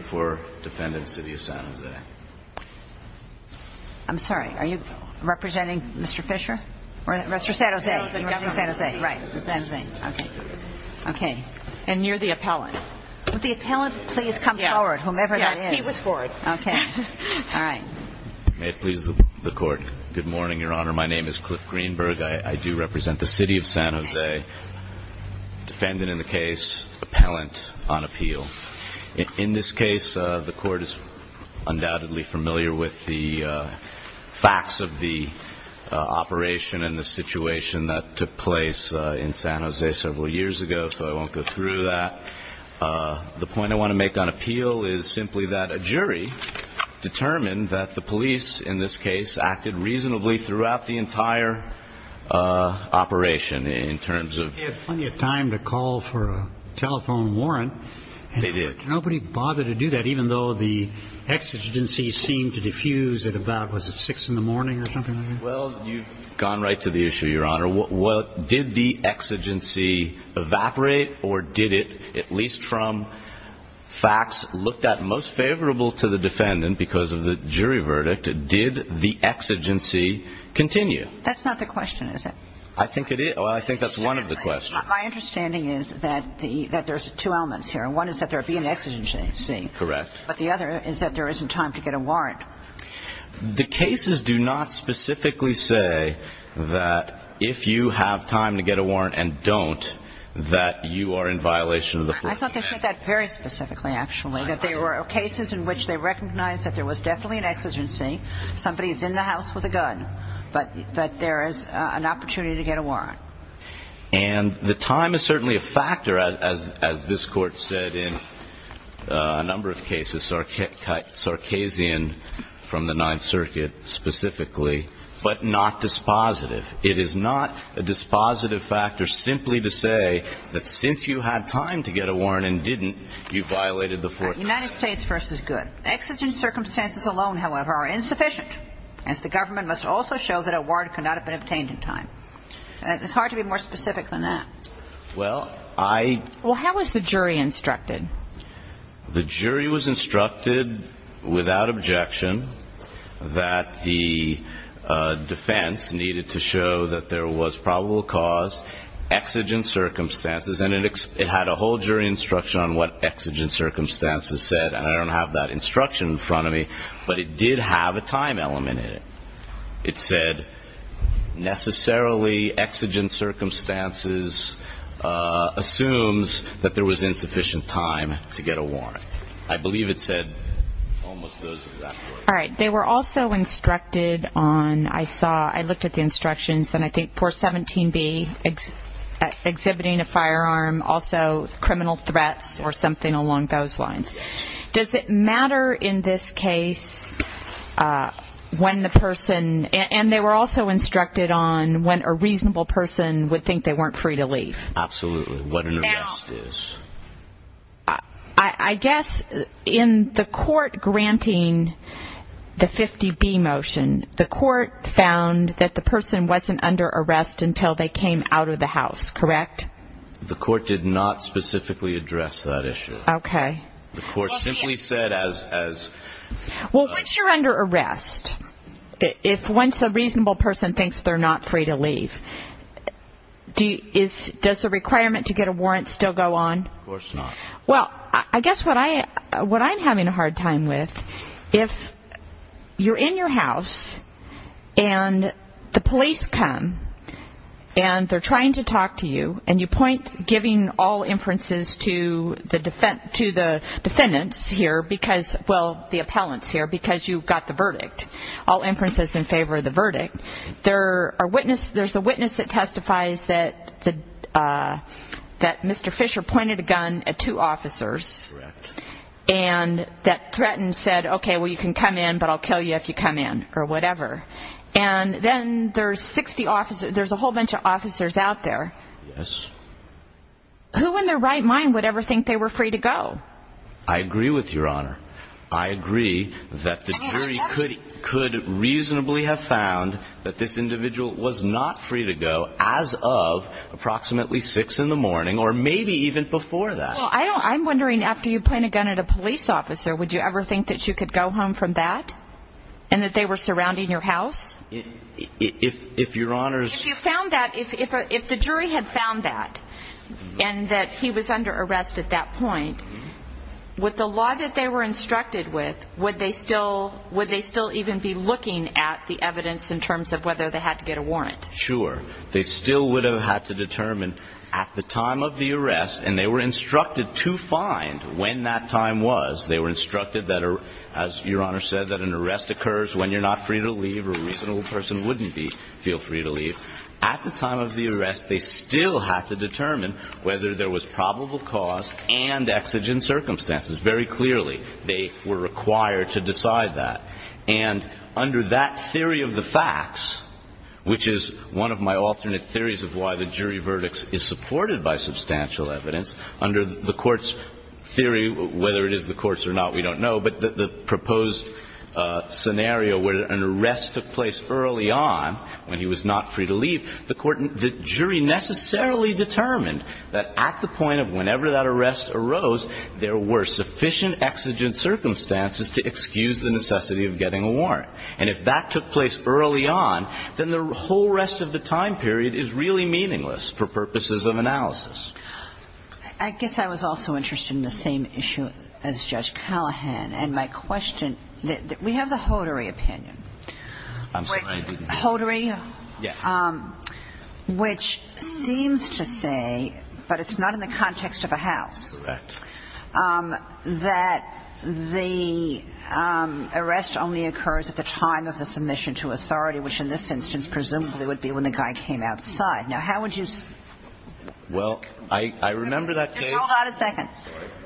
for defendant City of San Jose. I'm sorry, are you representing Mr. Fisher or Mr. San Jose? Right. Okay. And you're the appellant. Would the appellant please come forward, whomever that is? Yes, he was forward. Okay. All right. May it please the court. Good morning, Your Honor. My name is Cliff Greenberg. I do represent the City of San Jose. Defendant in this case, appellant on appeal. In this case, the court is undoubtedly familiar with the facts of the operation and the situation that took place in San Jose several years ago, so I won't go through that. The point I want to make on appeal is simply that a jury determined that the police, in this case, acted reasonably throughout the entire operation in terms of... We had plenty of time to call for a telephone warrant. They did. Nobody bothered to do that, even though the exigency seemed to diffuse at about, was it 6 in the morning or something like that? Well, you've gone right to the issue, Your Honor. Did the exigency evaporate or did it, at least from facts looked at most favorable to the defendant because of the jury verdict, did the exigency continue? That's not the question, is it? I think it is. Well, I think that's one of the questions. My understanding is that there's two elements here. One is that there be an exigency. Correct. But the other is that there isn't time to get a warrant. The cases do not specifically say that if you have time to get a warrant and don't, that you are in violation of the first amendment. I thought they said that very specifically, actually. That there were cases in which they recognized that there was definitely an exigency. Somebody's in the house with a gun, that there is an opportunity to get a warrant. And the time is certainly a factor, as this Court said in a number of cases, Sarkazian from the Ninth Circuit specifically, but not dispositive. It is not a dispositive factor simply to say that since you had time to get a warrant and didn't, you violated the fourth amendment. United States v. Good. Exigent circumstances alone, however, are insufficient, as the government must also show that a warrant could not have been obtained in time. It's hard to be more specific than that. Well, I Well, how was the jury instructed? The jury was instructed without objection that the defense needed to show that there was probable cause, exigent circumstances, and it had a whole jury instruction on what exigent circumstances said, and I don't have that instruction in front of me, but it did have a time element in it. It said necessarily exigent circumstances assumes that there was insufficient time to get a warrant. I believe it said almost those exact words. All right. They were also instructed on, I saw, I looked at the instructions, and I think 417B, exhibiting a firearm, also criminal threats or along those lines. Does it matter in this case when the person, and they were also instructed on when a reasonable person would think they weren't free to leave? Absolutely. What an arrest is. I guess in the court granting the 50B motion, the court found that the person wasn't under arrest until they came out of the house, correct? The court did not specifically address that issue. Okay. The court simply said as... Well, once you're under arrest, if once a reasonable person thinks they're not free to leave, does the requirement to get a warrant still go on? Of course not. Well, I guess what I'm having a hard time with, if you're in your house, and the police come, and they're trying to talk to you, and you point giving all inferences to the defendants here, because, well, the appellants here, because you got the verdict. All inferences in favor of the verdict. There's a witness that testifies that Mr. Fisher pointed a gun at two officers, and that threatened, said, okay, well, you can come in, but I'll kill you if you come in, or whatever. And then there's 60 officers, there's a whole bunch of officers out there. Yes. Who in their right mind would ever think they were free to go? I agree with your honor. I agree that the jury could reasonably have found that this individual was not free to go as of approximately six in the morning, or maybe even before that. Well, I'm wondering, after you point a gun at a police officer, would you ever think that you could go home from that? And that they were surrounding your house? If your honor's... If you found that, if the jury had found that, and that he was under arrest at that point, would the law that they were instructed with, would they still even be looking at the evidence in terms of whether they had to get a warrant? Sure. They still would have had to determine at the time of the arrest, and they were instructed to find when that time was. They were instructed that, as your honor said, that an arrest occurs when you're not free to leave, or a reasonable person wouldn't feel free to leave. At the time of the arrest, they still had to determine whether there was probable cause and exigent circumstances. Very clearly, they were required to decide that. And under that theory of the facts, which is one of my alternate theories of why the jury verdicts is supported by substantial evidence, under the court's theory, whether it is the courts or not, we don't know, but the proposed scenario where an arrest took place early on when he was not free to leave, the court, the jury necessarily determined that at the point of whenever that arrest arose, there were sufficient exigent circumstances to excuse the necessity of getting a warrant. And if that took place early on, then the whole rest of the time period is really meaningless for purposes of analysis. I guess I was also interested in the same issue as Judge Callahan, and my question, we have the Hodori opinion. I'm sorry, I didn't. Hodori? Yeah. Which seems to say, but it's not in the context of a house. Correct. That the arrest only occurs at the time of the submission to authority, which in this instance presumably would be when the guy came outside. Now, how would you? Well, I remember that. Just hold on a second.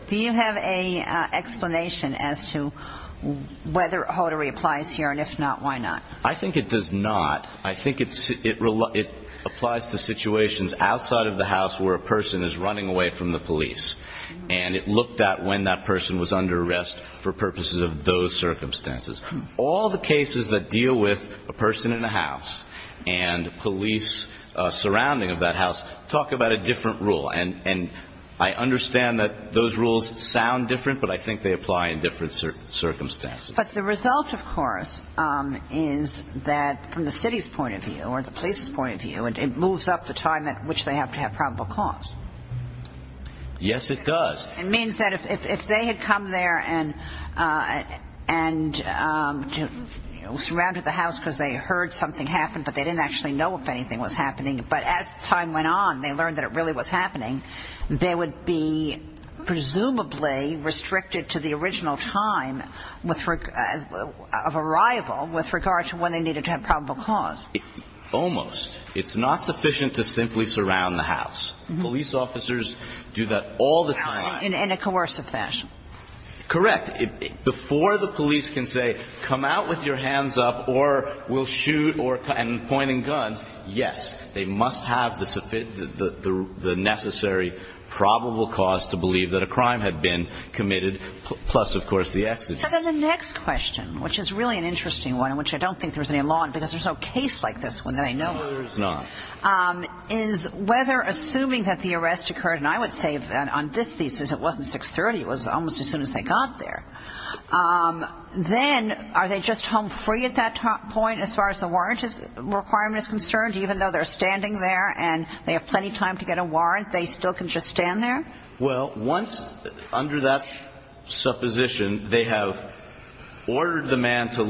Do you have a explanation as to whether Hodori applies here? And if not, why not? I think it does not. I think it applies to situations outside of the house where a person is running away from the police. And it looked at when that person was under arrest for purposes of those circumstances. All the cases that deal with a person in a house and police surrounding of that house talk about a different rule. And I understand that those rules sound different, but I think they apply in different circumstances. But the result, of course, is that from the city's point of view or the police's point of view, it moves up the time at which they have to have probable cause. Yes, it does. It means that if they had come there and and surrounded the house because they heard something happened, but they didn't actually know if anything was happening. But as time went on, they learned that it really was happening. They would be presumably restricted to the original time with a variable with regard to when they needed to have probable cause. Almost. It's not do that all the time in a coercive fashion. Correct. Before the police can say, come out with your hands up or we'll shoot or pointing guns. Yes, they must have the necessary probable cause to believe that a crime had been committed. Plus, of course, the exit. So then the next question, which is really an interesting one, which I don't think there's a lot because there's no case like this one that I know is not is whether assuming that the arrest occurred. And I would say on this thesis, it wasn't 630. It was almost as soon as they got there. Then are they just home free at that point as far as the warrant requirement is concerned, even though they're standing there and they have plenty of time to get a warrant, they still can just stand there. Well, once under that supposition, they have ordered the man to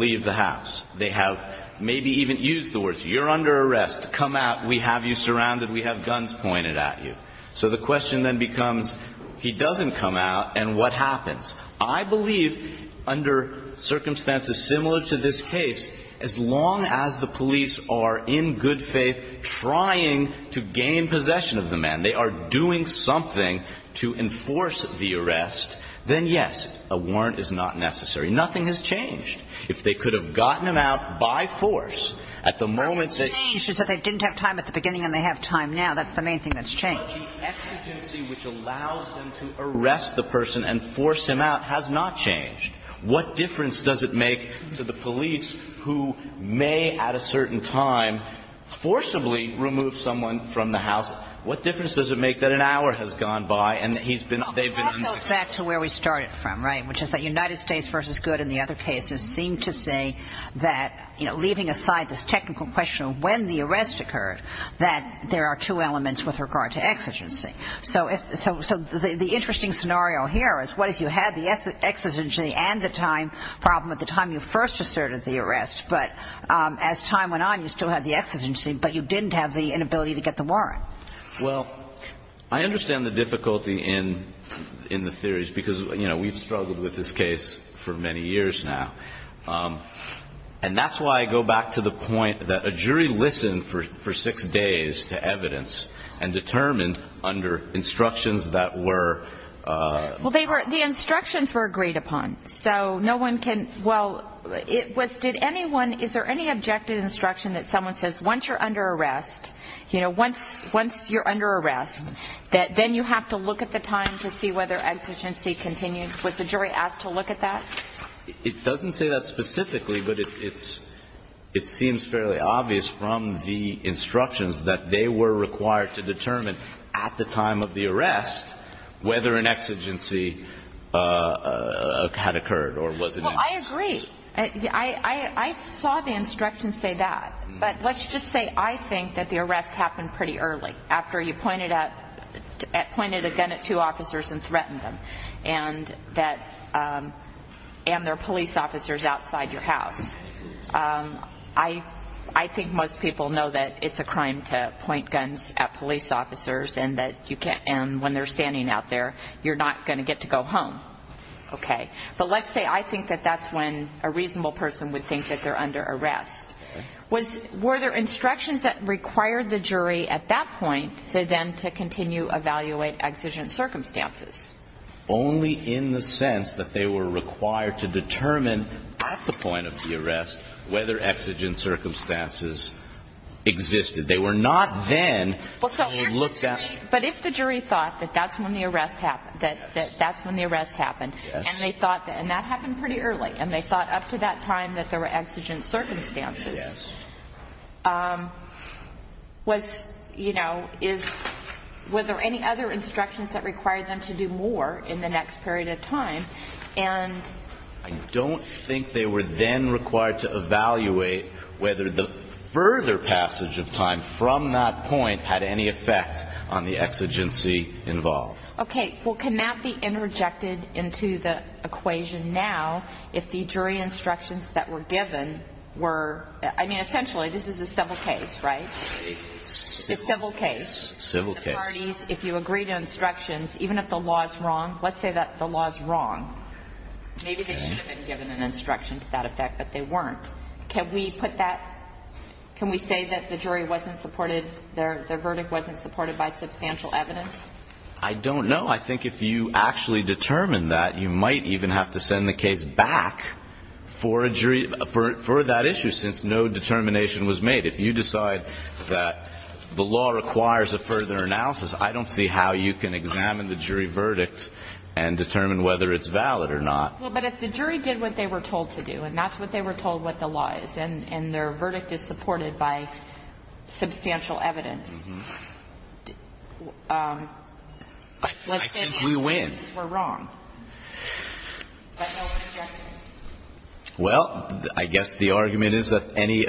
maybe even use the words you're under arrest. Come out. We have you surrounded. We have guns pointed at you. So the question then becomes, he doesn't come out. And what happens? I believe under circumstances similar to this case, as long as the police are in good faith, trying to gain possession of the man, they are doing something to enforce the arrest. Then, yes, a warrant is not necessary. Nothing has changed. If they could have gotten him out by force at the moment, she said they didn't have time at the beginning and they have time now. That's the main thing that's changed. Exigency, which allows them to arrest the person and force him out has not changed. What difference does it make to the police who may at a certain time forcibly remove someone from the house? What difference does it make that an hour has gone by and he's been they've been back to where we started from? Right. Which is that United States versus good. And the other cases seem to say that, you know, leaving aside this technical question of when the arrest occurred, that there are two elements with regard to exigency. So if so, so the interesting scenario here is what if you had the exigency and the time problem at the time you first asserted the arrest, but as time went on, you still had the exigency, but you didn't have the inability to get the warrant. Well, I understand the difficulty in the theories because, you know, we've struggled with this case for many years now. And that's why I go back to the point that a jury listened for six days to evidence and determined under instructions that were. Well, they were the instructions were agreed upon. So no one can. Well, it was did anyone is there any objective instruction that someone says once you're under arrest that then you have to look at the time to see whether exigency continued? Was the jury asked to look at that? It doesn't say that specifically, but it's it seems fairly obvious from the instructions that they were required to determine at the time of the arrest whether an exigency had occurred or wasn't. Well, I agree. I saw the instructions say that. But let's just say I think that the arrest happened pretty early after you pointed out at pointed a gun at two officers and threatened them and that and their police officers outside your house. I I think most people know that it's a crime to point guns at police officers and that you can't. And when they're standing out there, you're not going to get to go home. OK, but let's say I think that that's when a reasonable person would think that they're arrest was were there instructions that required the jury at that point to then to continue evaluate exigent circumstances only in the sense that they were required to determine at the point of the arrest whether exigent circumstances existed. They were not then looked at. But if the jury thought that that's when the arrest happened, that that's when the arrest happened and they thought that and that happened pretty early and they thought up to that time that there were exigent circumstances. Was you know, is whether any other instructions that required them to do more in the next period of time and I don't think they were then required to evaluate whether the further passage of time from that point had any effect on the exigency involved. OK, well, can that be interjected into the equation now if the jury instructions that were given were I mean, essentially, this is a civil case, right? Civil case. Civil case. If you agree to instructions, even if the law is wrong, let's say that the law is wrong. Maybe they should have been given an instruction to that effect, but they weren't. Can we put that can we say that the jury wasn't supported? Their verdict wasn't supported by substantial evidence? I don't know. I think if you actually determine that you might even have to send the case back for a jury for that issue since no determination was made. If you decide that the law requires a further analysis, I don't see how you can examine the jury verdict and determine whether it's valid or not. Well, but if the jury did what they were told to do and that's what they were told what the law is and their verdict is supported by substantial evidence. I think we win. We're wrong. Well, I guess the argument is that any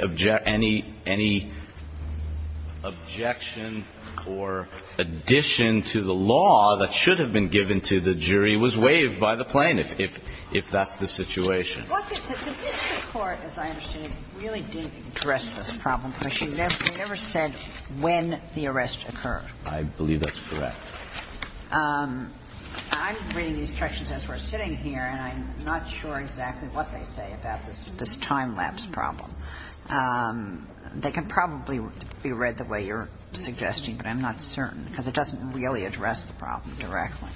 objection or addition to the law that should have been given to the jury was waived by the plaintiff if that's the situation. The district court, as I understand it, really didn't address this problem because you never said when the arrest occurred. I believe that's correct. I'm reading the instructions as we're sitting here and I'm not sure exactly what they say about this time lapse problem. They can probably be read the way you're suggesting, but I'm not certain because it doesn't really address the problem directly.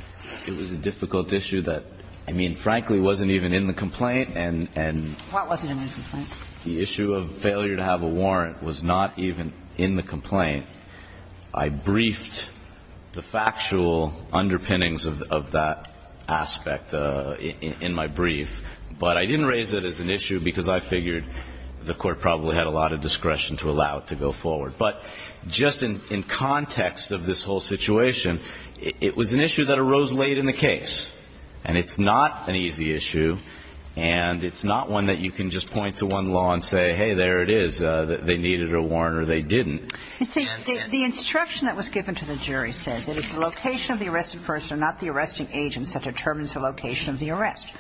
It was a difficult issue that, I mean, frankly, wasn't even in the complaint and the issue of failure to have a warrant was not even in the complaint. I briefed the factual underpinnings of that aspect in my brief, but I didn't raise it as an issue because I figured the court probably had a lot of discretion to allow it to go forward. Just in context of this whole situation, it was an issue that arose late in the case. It's not an easy issue and it's not one that you can just point to one law and say, hey, there it is. They needed a warrant or they didn't. The instruction that was given to the jury says it is the location of the arrested person, not the arresting agents, that determines the location of the arrest.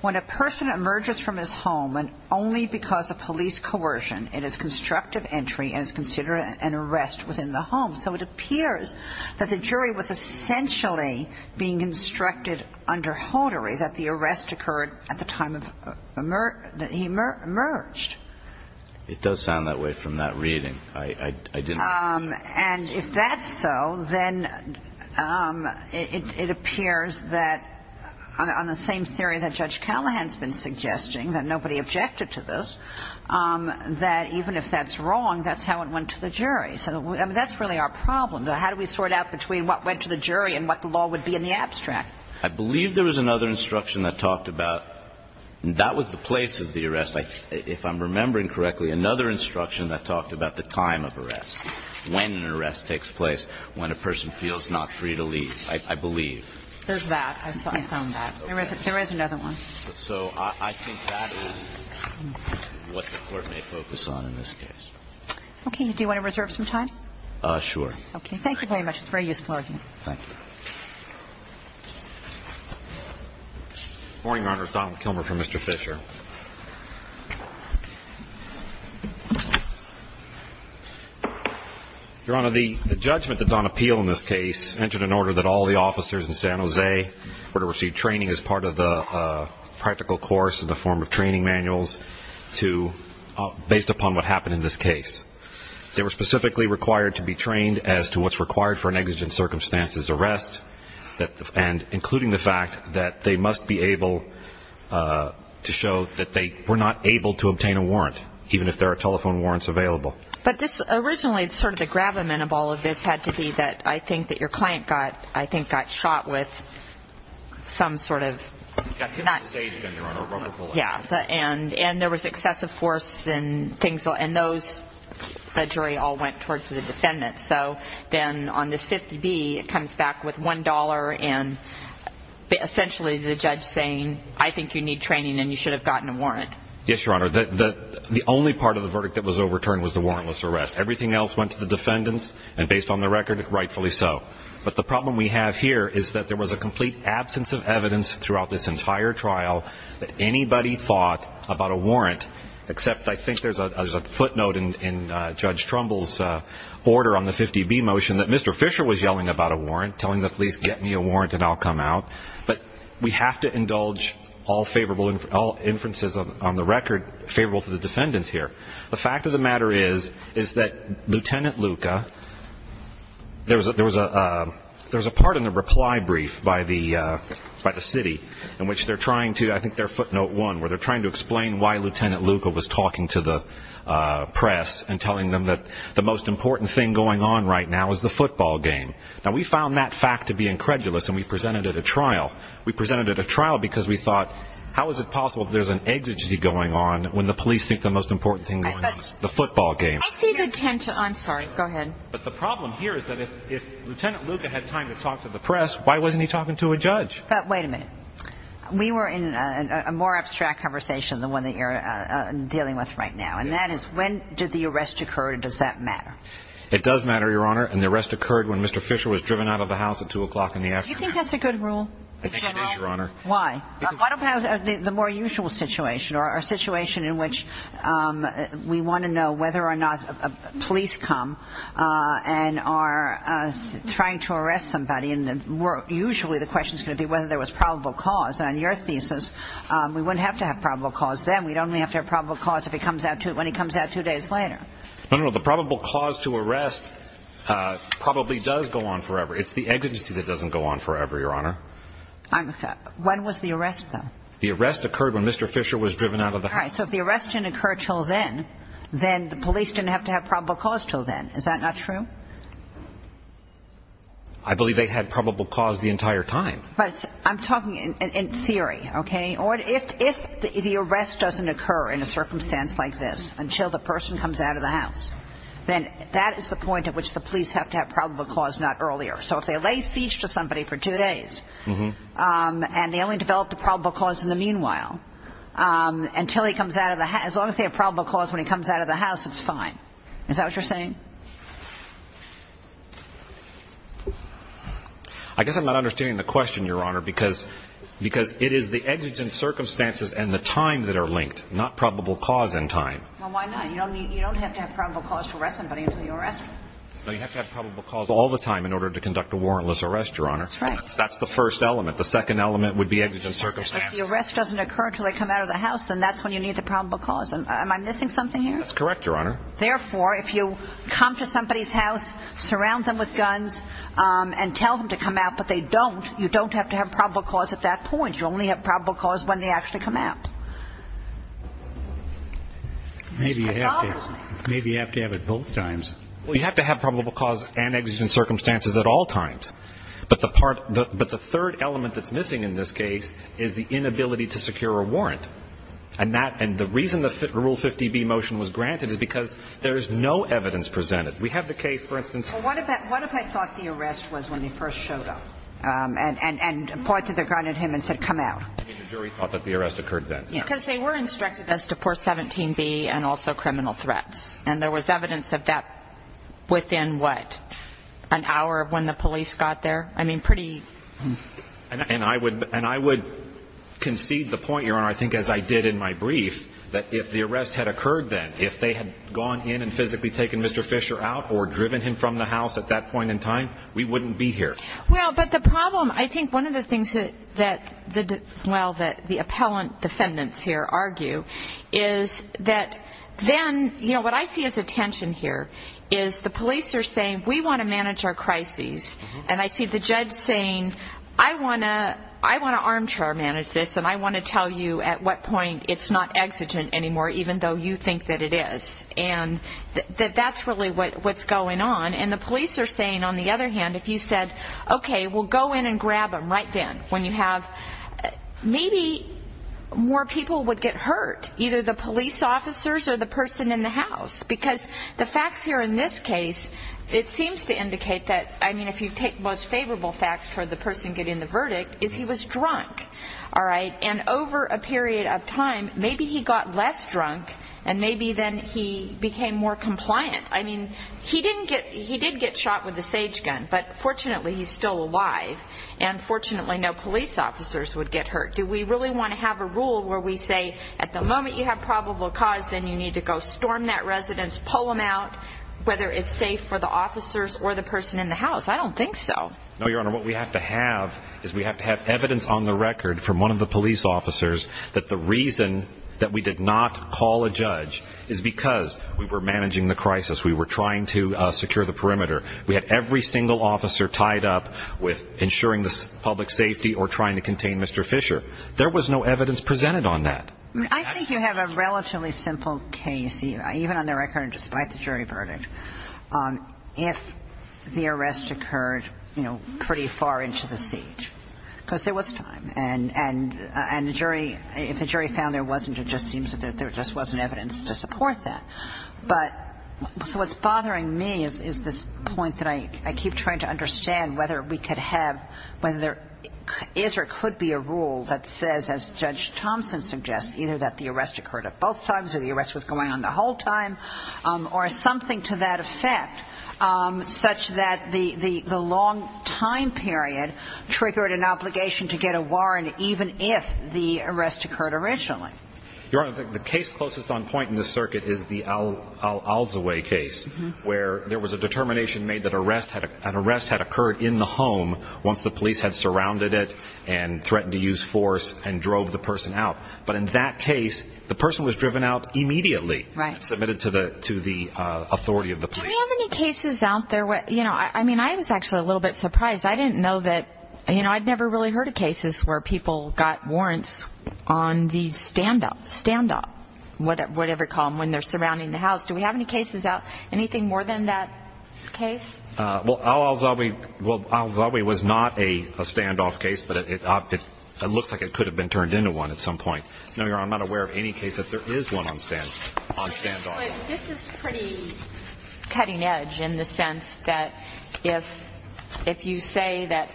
When a person emerges from his home and only because of police coercion, it is constructive entry and is considered an arrest within the home. So it appears that the jury was essentially being instructed under Hodori that the arrest occurred at the time that he emerged. It does sound that way from that reading. And if that's so, then it appears that on the same theory that Judge Callahan has been even if that's wrong, that's how it went to the jury. So that's really our problem. How do we sort out between what went to the jury and what the law would be in the abstract? I believe there was another instruction that talked about that was the place of the arrest. If I'm remembering correctly, another instruction that talked about the time of arrest, when an arrest takes place, when a person feels not free to leave, I believe. There's that. I found that. There is another one. So I think that is what the Court may focus on in this case. Okay. Do you want to reserve some time? Sure. Okay. Thank you very much. It's a very useful argument. Thank you. Good morning, Your Honor. Donald Kilmer for Mr. Fisher. Your Honor, the judgment that's on appeal in this case entered an order that all the practical course in the form of training manuals to, based upon what happened in this case, they were specifically required to be trained as to what's required for an exigent circumstances arrest and including the fact that they must be able to show that they were not able to obtain a warrant, even if there are telephone warrants available. But this originally, it's sort of the gravamen of all of this had to be that I think that your client got, I think, got shot with some sort of Yeah. And there was excessive force and those, the jury all went towards the defendant. So then on this 50B, it comes back with $1 and essentially the judge saying, I think you need training and you should have gotten a warrant. Yes, Your Honor. The only part of the verdict that was overturned was the warrantless arrest. Everything else went to the defendants and based on the record, rightfully so. But the problem we have here is that there was a complete absence of evidence throughout this entire trial that anybody thought about a warrant, except I think there's a footnote in Judge Trumbull's order on the 50B motion that Mr. Fisher was yelling about a warrant, telling the police, get me a warrant and I'll come out. But we have to indulge all favorable, all inferences on the record, favorable to the defendants here. The fact of the matter is, is that Lieutenant Luca, there was a part in the reply brief by the city in which they're trying to, I think their footnote one, where they're trying to explain why Lieutenant Luca was talking to the press and telling them that the most important thing going on right now is the football game. Now, we found that fact to be incredulous and we presented it at trial. We presented it at trial because we thought, how is it possible if there's an exigency going on when the police think the most important thing going on is the football game? I see the attempt to, I'm sorry, go ahead. But the problem here is that if Lieutenant Luca had time to talk to the press, why wasn't he talking to a judge? But wait a minute. We were in a more abstract conversation than the one that you're dealing with right now. And that is, when did the arrest occur and does that matter? It does matter, Your Honor. And the arrest occurred when Mr. Fisher was driven out of the house at two o'clock in the afternoon. Do you think that's a good rule? I think it is, Your Honor. Why? What about the more usual situation or a situation in which we want to know whether or not police come and are trying to arrest somebody? And usually the question is going to be whether there was probable cause. And on your thesis, we wouldn't have to have probable cause then. We'd only have to have probable cause when he comes out two days later. No, no, no. The probable cause to arrest probably does go on forever. It's the exigency that doesn't go on forever, Your Honor. I'm, when was the arrest, though? The arrest occurred when Mr. Fisher was driven out of the house. All right. So if the arrest didn't occur until then, then the police didn't have to have probable cause until then. Is that not true? I believe they had probable cause the entire time. But I'm talking in theory, okay? Or if the arrest doesn't occur in a circumstance like this until the person comes out of the house, then that is the point at which the police have to have probable cause not earlier. So if they lay siege to somebody for two days, and they only develop the probable cause in the meanwhile, until he comes out of the house, as long as they have probable cause when he comes out of the house, it's fine. Is that what you're saying? I guess I'm not understanding the question, Your Honor, because it is the exigent circumstances and the time that are linked, not probable cause and time. Well, why not? You don't have to have probable cause to arrest somebody until you arrest them. No, you have to have probable cause all the time in order to conduct a warrantless arrest, Your Honor. That's right. That's the first element. The second element would be exigent circumstances. If the arrest doesn't occur until they come out of the house, then that's when you need the probable cause. Am I missing something here? That's correct, Your Honor. Therefore, if you come to somebody's house, surround them with guns and tell them to come out, but they don't, you don't have to have probable cause at that point. You only have probable cause when they actually come out. Maybe you have to have it both times. Well, you have to have probable cause and exigent circumstances at all times. But the part, but the third element that's missing in this case is the inability to secure a warrant. And that, and the reason the Rule 50B motion was granted is because there is no evidence presented. We have the case, for instance. Well, what if I thought the arrest was when they first showed up and pointed the gun at him and said, come out? You mean the jury thought that the arrest occurred then? Yeah, because they were instructed as to Part 17B and also criminal threats. And there was evidence of that within, what, an hour when the police got there? I mean, pretty... And I would concede the point, Your Honor, I think as I did in my brief, that if the arrest had occurred then, if they had gone in and physically taken Mr. Fisher out or driven him from the house at that point in time, we wouldn't be here. Well, but the problem, I think one of the things that the, well, that the appellant defendants here argue is that then, you know, what I see as a tension here is the police are saying, we want to manage our crises. And I see the judge saying, I want to armchair manage this. And I want to tell you at what point it's not exigent anymore, even though you think that it is. And that's really what's going on. And the police are saying, on the other hand, if you said, okay, we'll go in and grab him right then when you have, maybe more people would get hurt, either the police officers or the person in the house. Because the facts here in this case, it seems to indicate that, I mean, if you take most favorable facts for the person getting the verdict, is he was drunk, all right? And over a period of time, maybe he got less drunk and maybe then he became more compliant. I mean, he didn't get, he did get shot with a sage gun. But fortunately, he's still alive. And fortunately, no police officers would get hurt. Do we really want to have a rule where we say, at the moment you have probable cause, then you need to go storm that residence, pull him out, whether it's safe for the officers or the person in the house? I don't think so. No, Your Honor. What we have to have is we have to have evidence on the record from one of the police officers that the reason that we did not call a judge is because we were managing the crisis. We were trying to secure the perimeter. We had every single officer tied up with ensuring the public safety or trying to contain Mr. Fisher. There was no evidence presented on that. I think you have a relatively simple case, even on the record, despite the jury verdict, if the arrest occurred, you know, pretty far into the seat, because there was time. And the jury, if the jury found there wasn't, it just seems that there just wasn't evidence to support that. Whether we could have, whether there is or could be a rule that says, as Judge Thompson suggests, either that the arrest occurred at both times or the arrest was going on the whole time, or something to that effect, such that the long time period triggered an obligation to get a warrant, even if the arrest occurred originally. Your Honor, the case closest on point in this circuit is the Al-Azawi case, where there was a determination made that an arrest had occurred in the home once the police had surrounded it and threatened to use force and drove the person out. But in that case, the person was driven out immediately. Right. Submitted to the authority of the police. Do we have any cases out there, you know, I mean, I was actually a little bit surprised. I didn't know that, you know, I'd never really heard of cases where people got warrants on the stand-up, stand-up, whatever you call them, when they're surrounding the house. Do we have any cases out, anything more than that case? Well, Al-Azawi was not a stand-off case, but it looks like it could have been turned into one at some point. No, Your Honor, I'm not aware of any case that there is one on stand-off. This is pretty cutting edge in the sense that if you say that,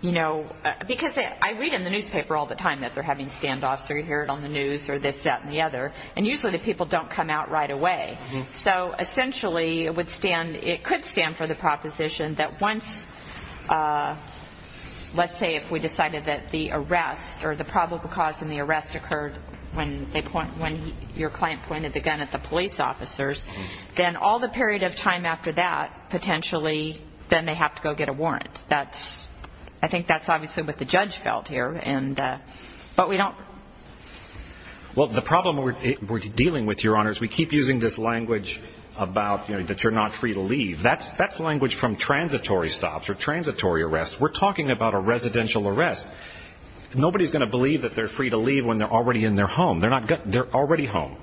you know, because I read in the newspaper all the time that they're having stand-offs, or you hear it on the news, or this, that, and the other. And usually the people don't come out right away. So essentially, it would stand, it could stand for the proposition that once, let's say if we decided that the arrest, or the probable cause in the arrest occurred when they point, when your client pointed the gun at the police officers, then all the period of time after that, potentially, then they have to go get a warrant. That's, I think that's obviously what the judge felt here and, but we don't. Well, the problem we're dealing with, Your Honor, is we keep using this language about, you know, that you're not free to leave. That's, that's language from transitory stops or transitory arrests. We're talking about a residential arrest. Nobody's going to believe that they're free to leave when they're already in their home. They're not, they're already home.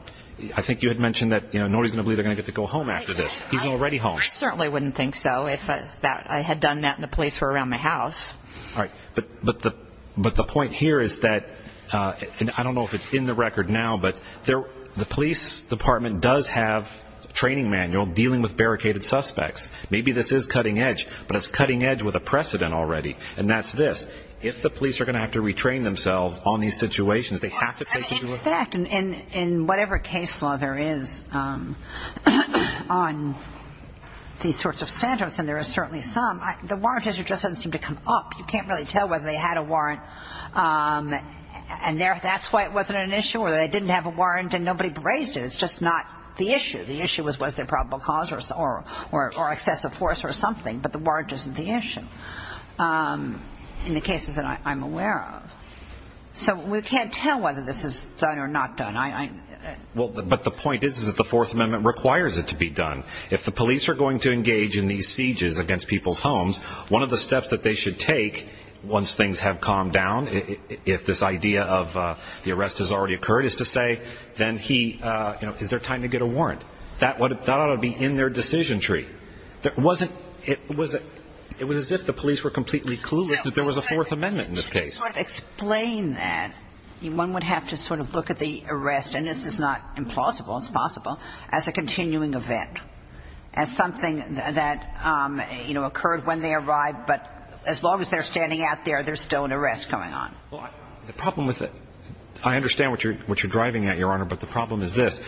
I think you had mentioned that, you know, nobody's going to believe they're going to get to go home after this. He's already home. I certainly wouldn't think so if that, I had done that and the police were around my house. All right. But, but the, but the point here is that, uh, and I don't know if it's in the record now, but there, the police department does have a training manual dealing with barricaded suspects. Maybe this is cutting edge, but it's cutting edge with a precedent already. And that's this. If the police are going to have to retrain themselves on these situations, they have to take into account. And in whatever case law there is, um, on these sorts of standards, and there are certainly some, the warrant has just doesn't seem to come up. You can't really tell whether they had a warrant. Um, and that's why it wasn't an issue or they didn't have a warrant and nobody raised it. It's just not the issue. The issue was, was there probable cause or, or, or excessive force or something, but the warrant isn't the issue, um, in the cases that I'm aware of. So we can't tell whether this is done or not done. I, I, well, but the point is, is that the fourth amendment requires it to be done. If the police are going to engage in these sieges against people's homes, one of the steps that they should take once things have calmed down, if this idea of, uh, the arrest has already occurred is to say, then he, uh, you know, is there time to get a warrant? That would, that ought to be in their decision tree. That wasn't, it was, it was as if the police were completely clueless that there was a fourth amendment in this case. I just want to explain that one would have to sort of look at the arrest, and this is not implausible, it's possible, as a continuing event. As something that, um, you know, occurred when they arrived, but as long as they're standing out there, there's still an arrest going on. Well, I, the problem with it, I understand what you're, what you're driving at, Your Honor, but the problem is this.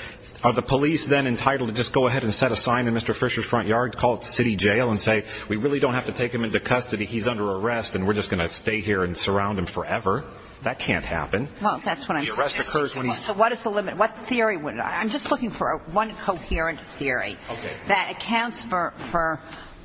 Are the police then entitled to just go ahead and set a sign in Mr. Fisher's front yard, call it city jail, and say, we really don't have to take him into custody, he's under arrest, and we're just going to stay here and surround him forever? That can't happen. Well, that's what I'm saying. The arrest occurs when he's... So what is the limit? What theory would, I'm just looking for one coherent theory. That accounts for, for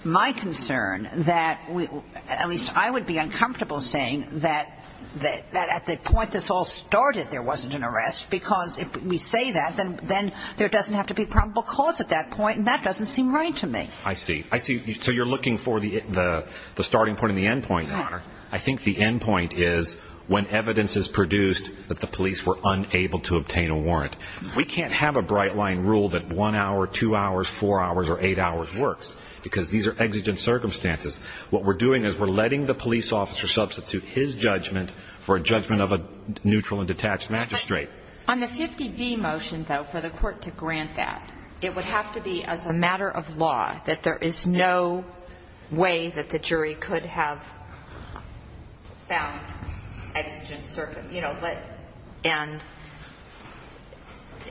my concern that we, at least I would be uncomfortable saying that, that at the point this all started, there wasn't an arrest, because if we say that, then there doesn't have to be probable cause at that point, and that doesn't seem right to me. I see, I see. So you're looking for the, the starting point and the end point, Your Honor. I think the end point is when evidence is produced that the police were unable to obtain a warrant. We can't have a bright line rule that one hour, two hours, four hours, or eight hours works, because these are exigent circumstances. What we're doing is we're letting the police officer substitute his judgment for a judgment of a neutral and detached magistrate. On the 50B motion, though, for the court to grant that, it would have to be as a matter of law that there is no way that the jury could have found exigent, you know, but, and,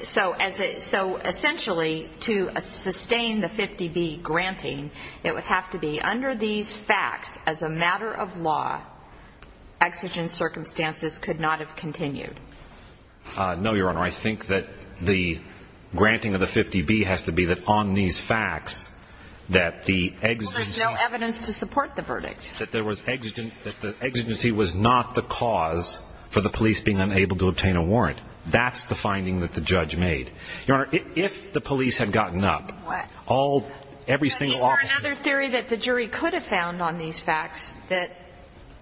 so as a, so essentially to sustain the 50B granting, it would have to be under these facts, as a matter of law, exigent circumstances could not have continued. No, Your Honor. I think that the granting of the 50B has to be that on these facts that the exigent. Well, there's no evidence to support the verdict. That there was exigent, that the exigency was not the cause for the police being unable to obtain a warrant. That's the finding that the judge made. Your Honor, if the police had gotten up. What? All, every single officer. But is there another theory that the jury could have found on these facts that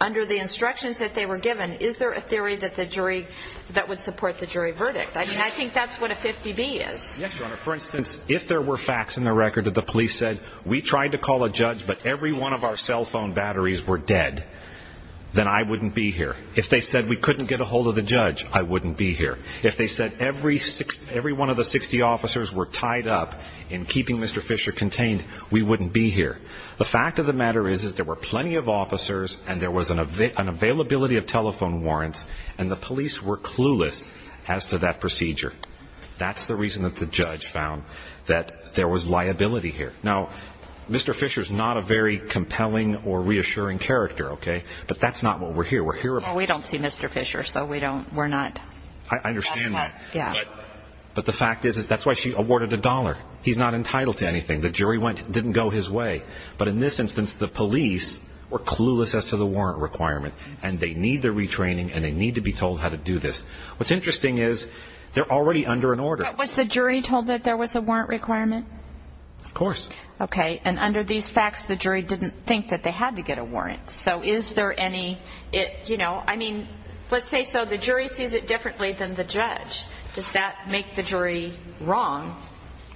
under the instructions that they were given, is there a theory that the jury, that would support the jury verdict? I mean, I think that's what a 50B is. Yes, Your Honor. For instance, if there were facts in the record that the police said, we tried to call a judge, but every one of our cell phone batteries were dead, then I wouldn't be here. If they said we couldn't get a hold of the judge, I wouldn't be here. If they said every one of the 60 officers were tied up in keeping Mr. Fisher contained, we wouldn't be here. The fact of the matter is, is there were plenty of officers, and there was an availability of telephone warrants, and the police were clueless as to that procedure. That's the reason that the judge found that there was liability here. Now, Mr. Fisher is not a very compelling or reassuring character, okay? But that's not what we're here. We're here. We don't see Mr. Fisher, so we don't, we're not. I understand that. Yeah. But the fact is, is that's why she awarded a dollar. He's not entitled to anything. The jury went, didn't go his way. But in this instance, the police were clueless as to the warrant requirement, and they need the retraining, and they need to be told how to do this. What's interesting is, they're already under an order. Was the jury told that there was a warrant requirement? Of course. Okay. And under these facts, the jury didn't think that they had to get a warrant. So is there any, you know, I mean, let's say, so the jury sees it differently than the judge. Does that make the jury wrong?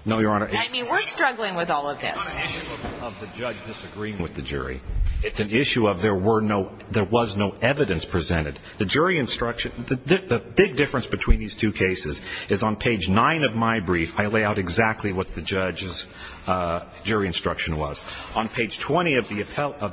No, Your Honor. I mean, we're struggling with all of this. It's not an issue of the judge disagreeing with the jury. It's an issue of there were no, there was no evidence presented. The jury instruction, the big difference between these two cases is on page nine of my brief, I lay out exactly what the judge's jury instruction was. On page 20 of the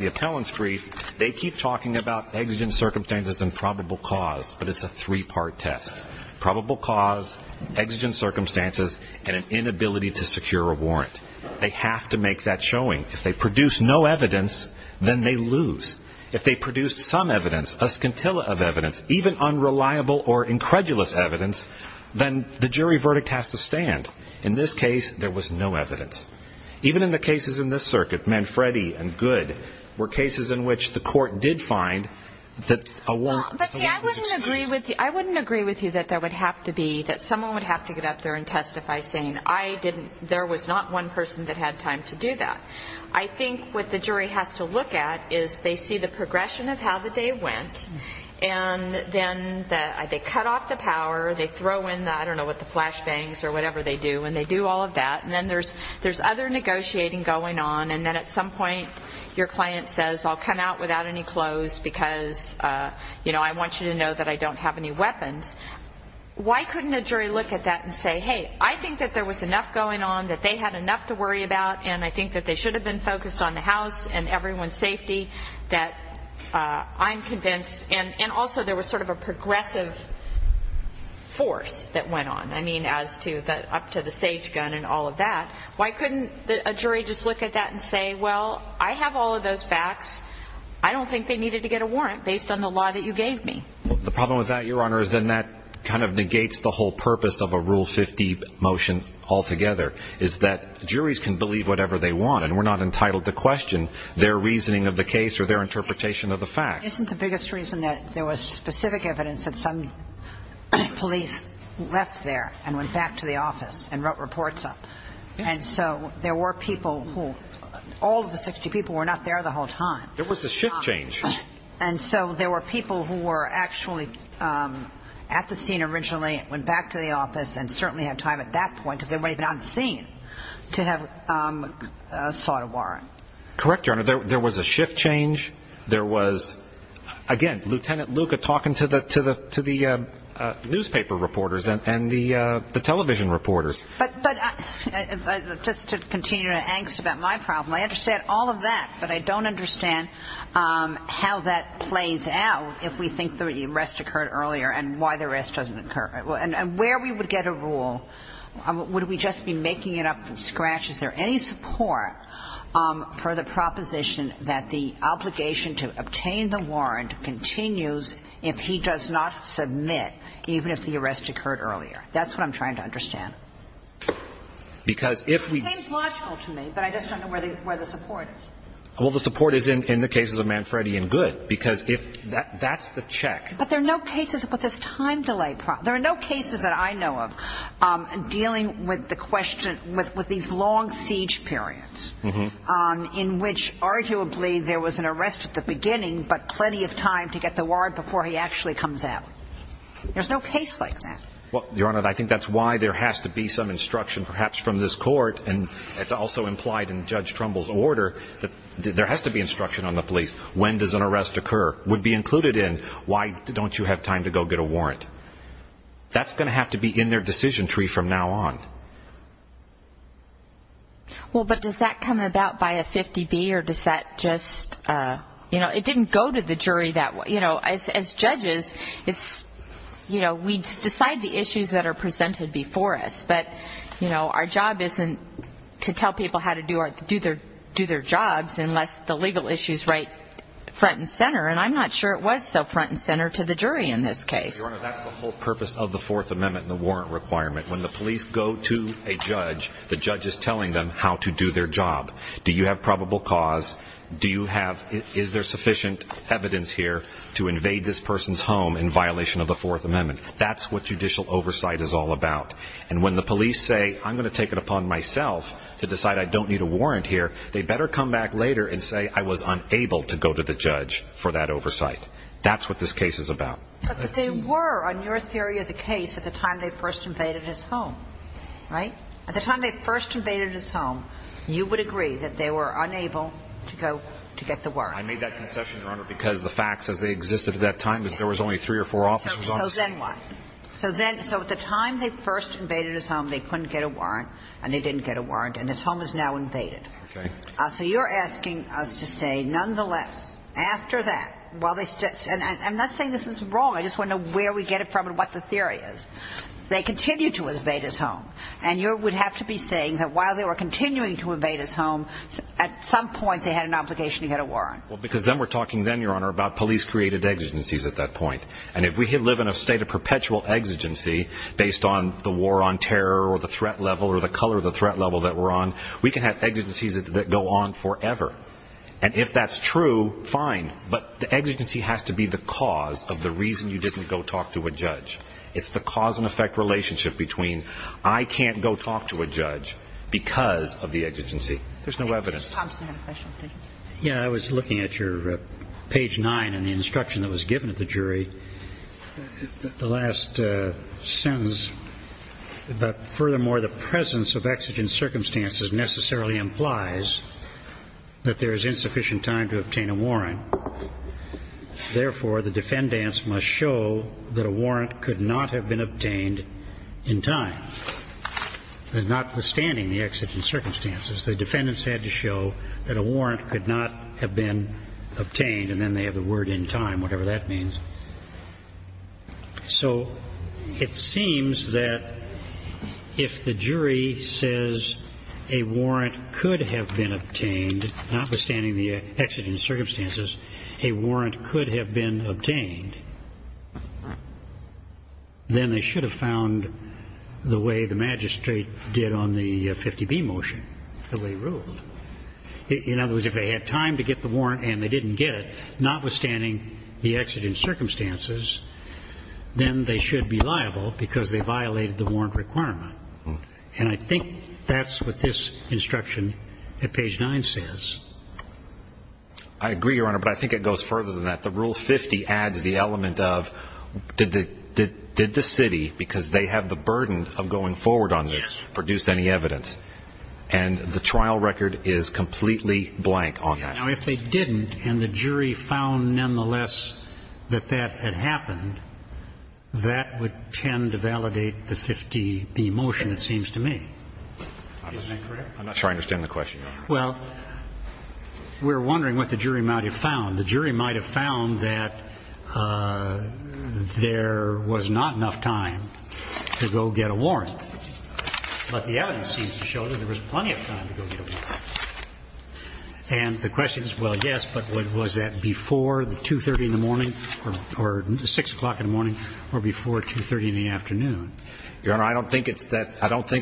appellant's brief, they keep talking about exigent circumstances and probable cause, but it's a three-part test. Probable cause, exigent circumstances, and an inability to secure a warrant. They have to make that showing. If they produce no evidence, then they lose. If they produce some evidence, a scintilla of evidence, even unreliable or incredulous evidence, then the jury verdict has to stand. In this case, there was no evidence. Even in the cases in this circuit, Manfredi and Good were cases in which the court did find that a warrant was excused. I wouldn't agree with you that there would have to be, that someone would have to get up there and testify saying, I didn't, there was not one person that had time to do that. I think what the jury has to look at is they see the progression of how the day went, and then they cut off the power. They throw in the, I don't know what, the flashbangs or whatever they do, and they do all of that, and then there's other negotiating going on, and then at some point, your client says, I'll come out without any clothes because, you know, I want you to know that I don't have any weapons. Why couldn't a jury look at that and say, hey, I think that there was enough going on that they had enough to worry about, and I think that they should have been focused on the house and everyone's safety, that I'm convinced, and also there was sort of a progressive force that went on, I mean, as to the, up to the sage gun and all of that. Why couldn't a jury just look at that and say, well, I have all of those facts. I don't think they needed to get a warrant based on the law that you gave me. The problem with that, Your Honor, is then that kind of negates the whole purpose of a Rule 50 motion altogether, is that juries can believe whatever they want, and we're not entitled to question their reasoning of the case or their interpretation of the facts. Isn't the biggest reason that there was specific evidence that some police left there and went back to the office and wrote reports up? And so there were people who, all of the 60 people were not there the whole time. There was a shift change. And so there were people who were actually at the scene originally, went back to the office and certainly had time at that point, because they might have been on the scene, to have sought a warrant. Correct, Your Honor. There was a shift change. There was, again, Lieutenant Luca talking to the newspaper reporters and the television reporters. But just to continue your angst about my problem, I understand all of that, but I don't understand how that plays out if we think the arrest occurred earlier and why the arrest doesn't occur. And where we would get a rule, would we just be making it up from scratch? Is there any support for the proposition that the obligation to obtain the warrant continues if he does not submit, even if the arrest occurred earlier? That's what I'm trying to understand. It seems logical to me, but I just don't know where the support is. Well, the support is in the cases of Manfredi and Good, because that's the check. But there are no cases with this time delay problem. There are no cases that I know of dealing with these long siege periods, in which arguably there was an arrest at the beginning, but plenty of time to get the warrant before he actually comes out. There's no case like that. Well, Your Honor, I think that's why there has to be some instruction, perhaps from this court, and it's also implied in Judge Trumbull's order, that there has to be instruction on the police. When does an arrest occur? Would be included in, why don't you have time to go get a warrant? That's going to have to be in their decision tree from now on. Well, but does that come about by a 50-B, or does that just, you know, it didn't go to the jury that way. You know, as judges, it's, you know, we decide the issues that are presented before us. But, you know, our job isn't to tell people how to do their jobs unless the legal issue is right front and center, and I'm not sure it was so front and center to the jury in this case. Your Honor, that's the whole purpose of the Fourth Amendment and the warrant requirement. When the police go to a judge, the judge is telling them how to do their job. Do you have probable cause? Do you have, is there sufficient evidence here to invade this person's home in violation of the Fourth Amendment? That's what judicial oversight is all about. And when the police say, I'm going to take it upon myself to decide I don't need a warrant here, they better come back later and say, I was unable to go to the judge for that oversight. That's what this case is about. But they were, on your theory of the case, at the time they first invaded his home, right? At the time they first invaded his home, you would agree that they were unable to go to get the warrant. I made that concession, Your Honor, because the facts as they existed at that time was there was only three or four officers on the scene. So then what? So then, so at the time they first invaded his home, they couldn't get a warrant, and they didn't get a warrant, and his home is now invaded. Okay. So you're asking us to say, nonetheless, after that, while they, and I'm not saying this is wrong, I just want to know where we get it from and what the theory is, they continue to invade his home. And you would have to be saying that while they were continuing to invade his home, at some point they had an obligation to get a warrant. Well, because then we're talking then, Your Honor, about police-created exigencies at that point. And if we live in a state of perpetual exigency based on the war on terror or the threat level or the color of the threat level that we're on, we can have exigencies that go on forever. And if that's true, fine. But the exigency has to be the cause of the reason you didn't go talk to a judge. It's the cause and effect relationship between I can't go talk to a judge because of the exigency. There's no evidence. Mr. Thompson had a question, please. Yeah. I was looking at your page nine and the instruction that was given at the jury, the last sentence about, furthermore, the presence of exigent circumstances necessarily implies that there is insufficient time to obtain a warrant. Therefore, the defendants must show that a warrant could not have been obtained in time, notwithstanding the exigent circumstances. The defendants had to show that a warrant could not have been obtained. And then they have the word in time, whatever that means. So it seems that if the jury says a warrant could have been obtained, notwithstanding the exigent circumstances, a warrant could have been obtained, then they should have found the way the magistrate did on the 50B motion, the way he ruled. In other words, if they had time to get the warrant and they didn't get it, notwithstanding the exigent circumstances, then they should be liable because they violated the warrant requirement. And I think that's what this instruction at page nine says. I agree, Your Honor, but I think it goes further than that. The Rule 50 adds the element of, did the city, because they have the burden of going forward on this, produce any evidence? And the trial record is completely blank on that. Now, if they didn't and the jury found, nonetheless, that that had happened, that would tend to validate the 50B motion, it seems to me. Is that correct? I'm not sure I understand the question, Your Honor. Well, we're wondering what the jury might have found. The jury might have found that there was not enough time to go get a warrant. But the evidence seems to show that there was plenty of time to go get a warrant. And the question is, well, yes, but was that before 2.30 in the morning or 6 o'clock in the morning or before 2.30 in the afternoon? Your Honor, I don't think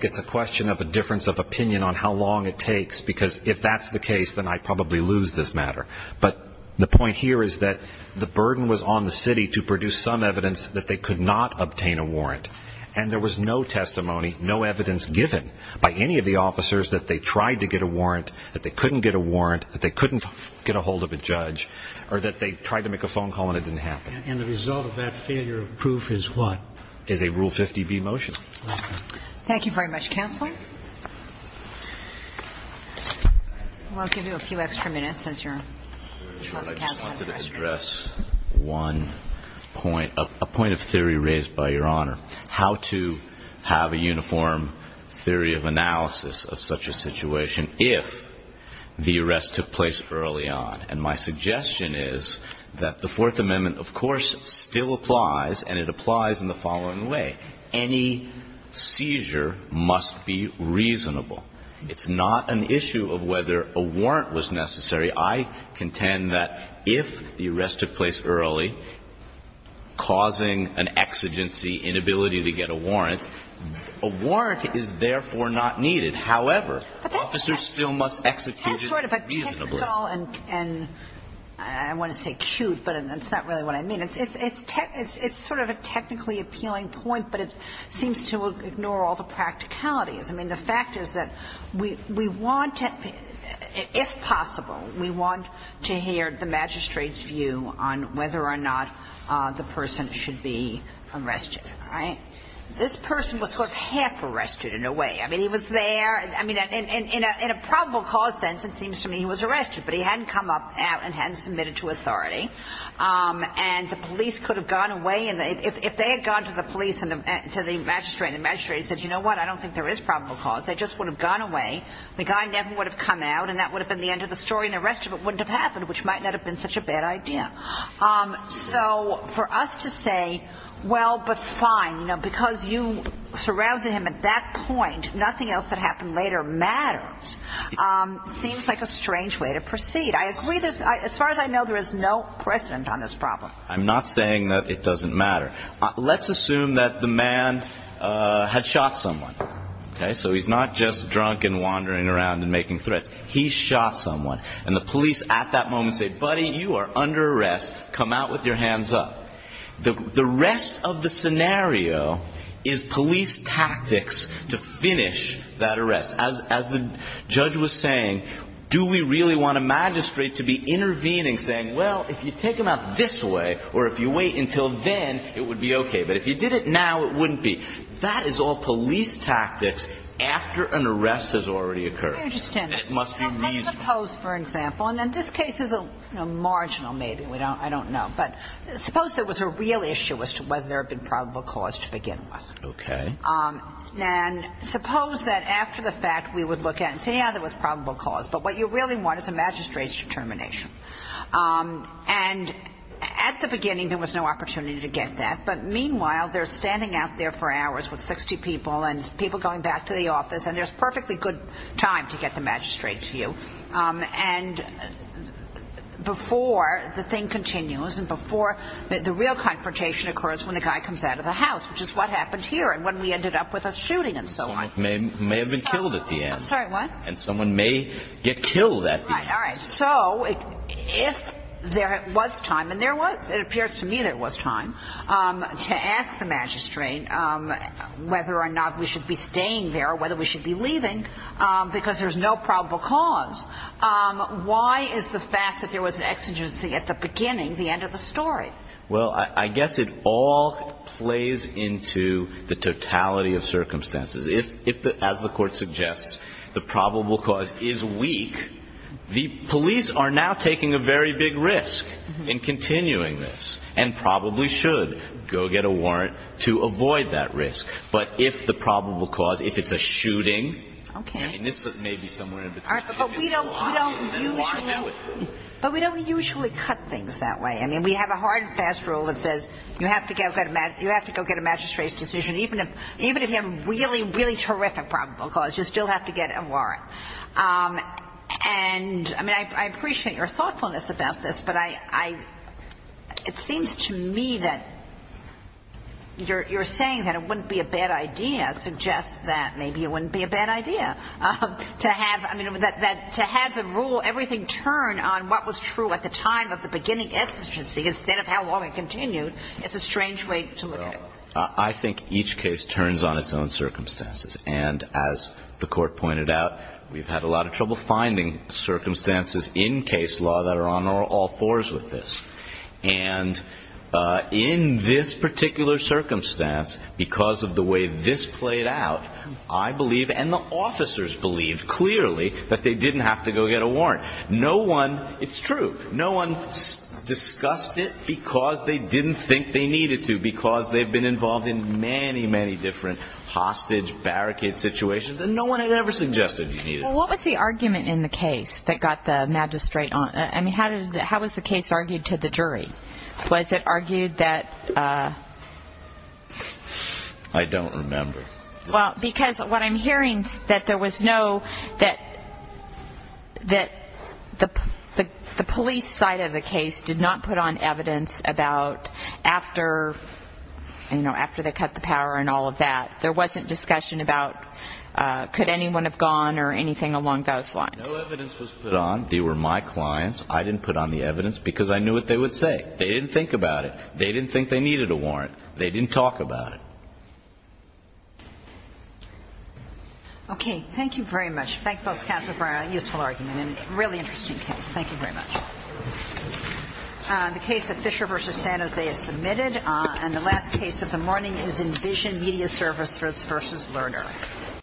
it's a question of a difference of opinion on how long it takes, because if that's the case, then I'd probably lose this matter. But the point here is that the burden was on the city to produce some evidence that they could not obtain a warrant. And there was no testimony, no evidence given by any of the officers that they tried to get a warrant, that they couldn't get a warrant, that they couldn't get a hold of a judge, or that they tried to make a phone call and it didn't happen. And the result of that failure of proof is what? Is a Rule 50B motion. Thank you very much, Counselor. We'll give you a few extra minutes as your counsel has the rest of the day. I just wanted to address one point, a point of theory raised by Your Honor, how to have a uniform theory of analysis of such a situation if the arrest took place early on. And my suggestion is that the Fourth Amendment, of course, still applies, and it applies in the following way. Any seizure must be reasonable. It's not an issue of whether a warrant was necessary. I contend that if the arrest took place early, causing an exigency inability to get a warrant, a warrant is therefore not needed. However, officers still must execute it reasonably. That's sort of a technical and I want to say acute, but it's not really what I mean. It's sort of a technically appealing point, but it seems to ignore all the practicalities. I mean, the fact is that we want to, if possible, we want to hear the magistrate's view on whether or not the person should be arrested. All right? This person was sort of half arrested in a way. I mean, he was there. I mean, in a probable cause sense, it seems to me he was arrested, but he hadn't come up out and hadn't submitted to authority. And the police could have gone away. And if they had gone to the police and to the magistrate and the magistrate said, you know what, I don't think there is probable cause. They just would have gone away. The guy never would have come out and that would have been the end of the story and the rest of it wouldn't have happened, which might not have been such a bad idea. So for us to say, well, but fine, you know, because you surrounded him at that point, nothing else that happened later matters, seems like a strange way to proceed. I agree, as far as I know, there is no precedent on this problem. I'm not saying that it doesn't matter. Let's assume that the man had shot someone. OK, so he's not just drunk and wandering around and making threats. He shot someone. And the police at that moment say, buddy, you are under arrest. Come out with your hands up. The rest of the scenario is police tactics to finish that arrest. As the judge was saying, do we really want a magistrate to be intervening, saying, well, if you take him out this way or if you wait until then, it would be OK. But if you did it now, it wouldn't be. That is all police tactics after an arrest has already occurred. It must be opposed, for example. And in this case is a marginal maybe. We don't I don't know. But suppose there was a real issue as to whether there have been probable cause to begin with. OK. And suppose that after the fact, we would look at and say, yeah, there was probable cause. But what you really want is a magistrate's determination. And at the beginning, there was no opportunity to get that. But meanwhile, they're standing out there for hours with 60 people and people going back to the office. And there's perfectly good time to get the magistrate to you. And before the thing continues and before the real confrontation occurs, when the guy comes out of the house, which is what happened here and when we ended up with a shooting and so on, may have been killed at the end. Sorry, what? And someone may get killed. That's right. All right. So if there was time and there was it appears to me there was time to ask the magistrate whether or not we should be staying there, whether we should be leaving because there's no probable cause. Why is the fact that there was an exigency at the beginning, the end of the story? Well, I guess it all plays into the totality of circumstances. If, as the court suggests, the probable cause is weak, the police are now taking a very risk in continuing this and probably should go get a warrant to avoid that risk. But if the probable cause, if it's a shooting, this may be somewhere in between. But we don't usually cut things that way. I mean, we have a hard and fast rule that says you have to go get a magistrate's decision. Even if you have a really, really terrific probable cause, you still have to get a warrant. And I mean, I appreciate your thoughtfulness about this. But it seems to me that you're saying that it wouldn't be a bad idea, suggest that maybe it wouldn't be a bad idea to have the rule, everything turn on what was true at the time of the beginning exigency instead of how long it continued. It's a strange way to look at it. I think each case turns on its own circumstances. And as the court pointed out, we've had a lot of trouble finding circumstances in case law that are on all fours with this. And in this particular circumstance, because of the way this played out, I believe and the officers believe clearly that they didn't have to go get a warrant. No one, it's true, no one discussed it because they didn't think they needed to, because they've been involved in many, many different hostage, barricade situations, and no one had ever suggested you needed it. Well, what was the argument in the case that got the magistrate on? I mean, how was the case argued to the jury? Was it argued that... I don't remember. Well, because what I'm hearing is that there was no, that the police side of the case did not put on evidence about after, you know, after they cut the power and all of that. There wasn't discussion about could anyone have gone or anything along those lines. No evidence was put on. They were my clients. I didn't put on the evidence because I knew what they would say. They didn't think about it. They didn't think they needed a warrant. They didn't talk about it. Okay. Thank you very much. Thank both counsel for a useful argument and really interesting case. Thank you very much. The case of Fisher v. San Jose is submitted. And the last case of the morning is Envision Media Service v. Lerner.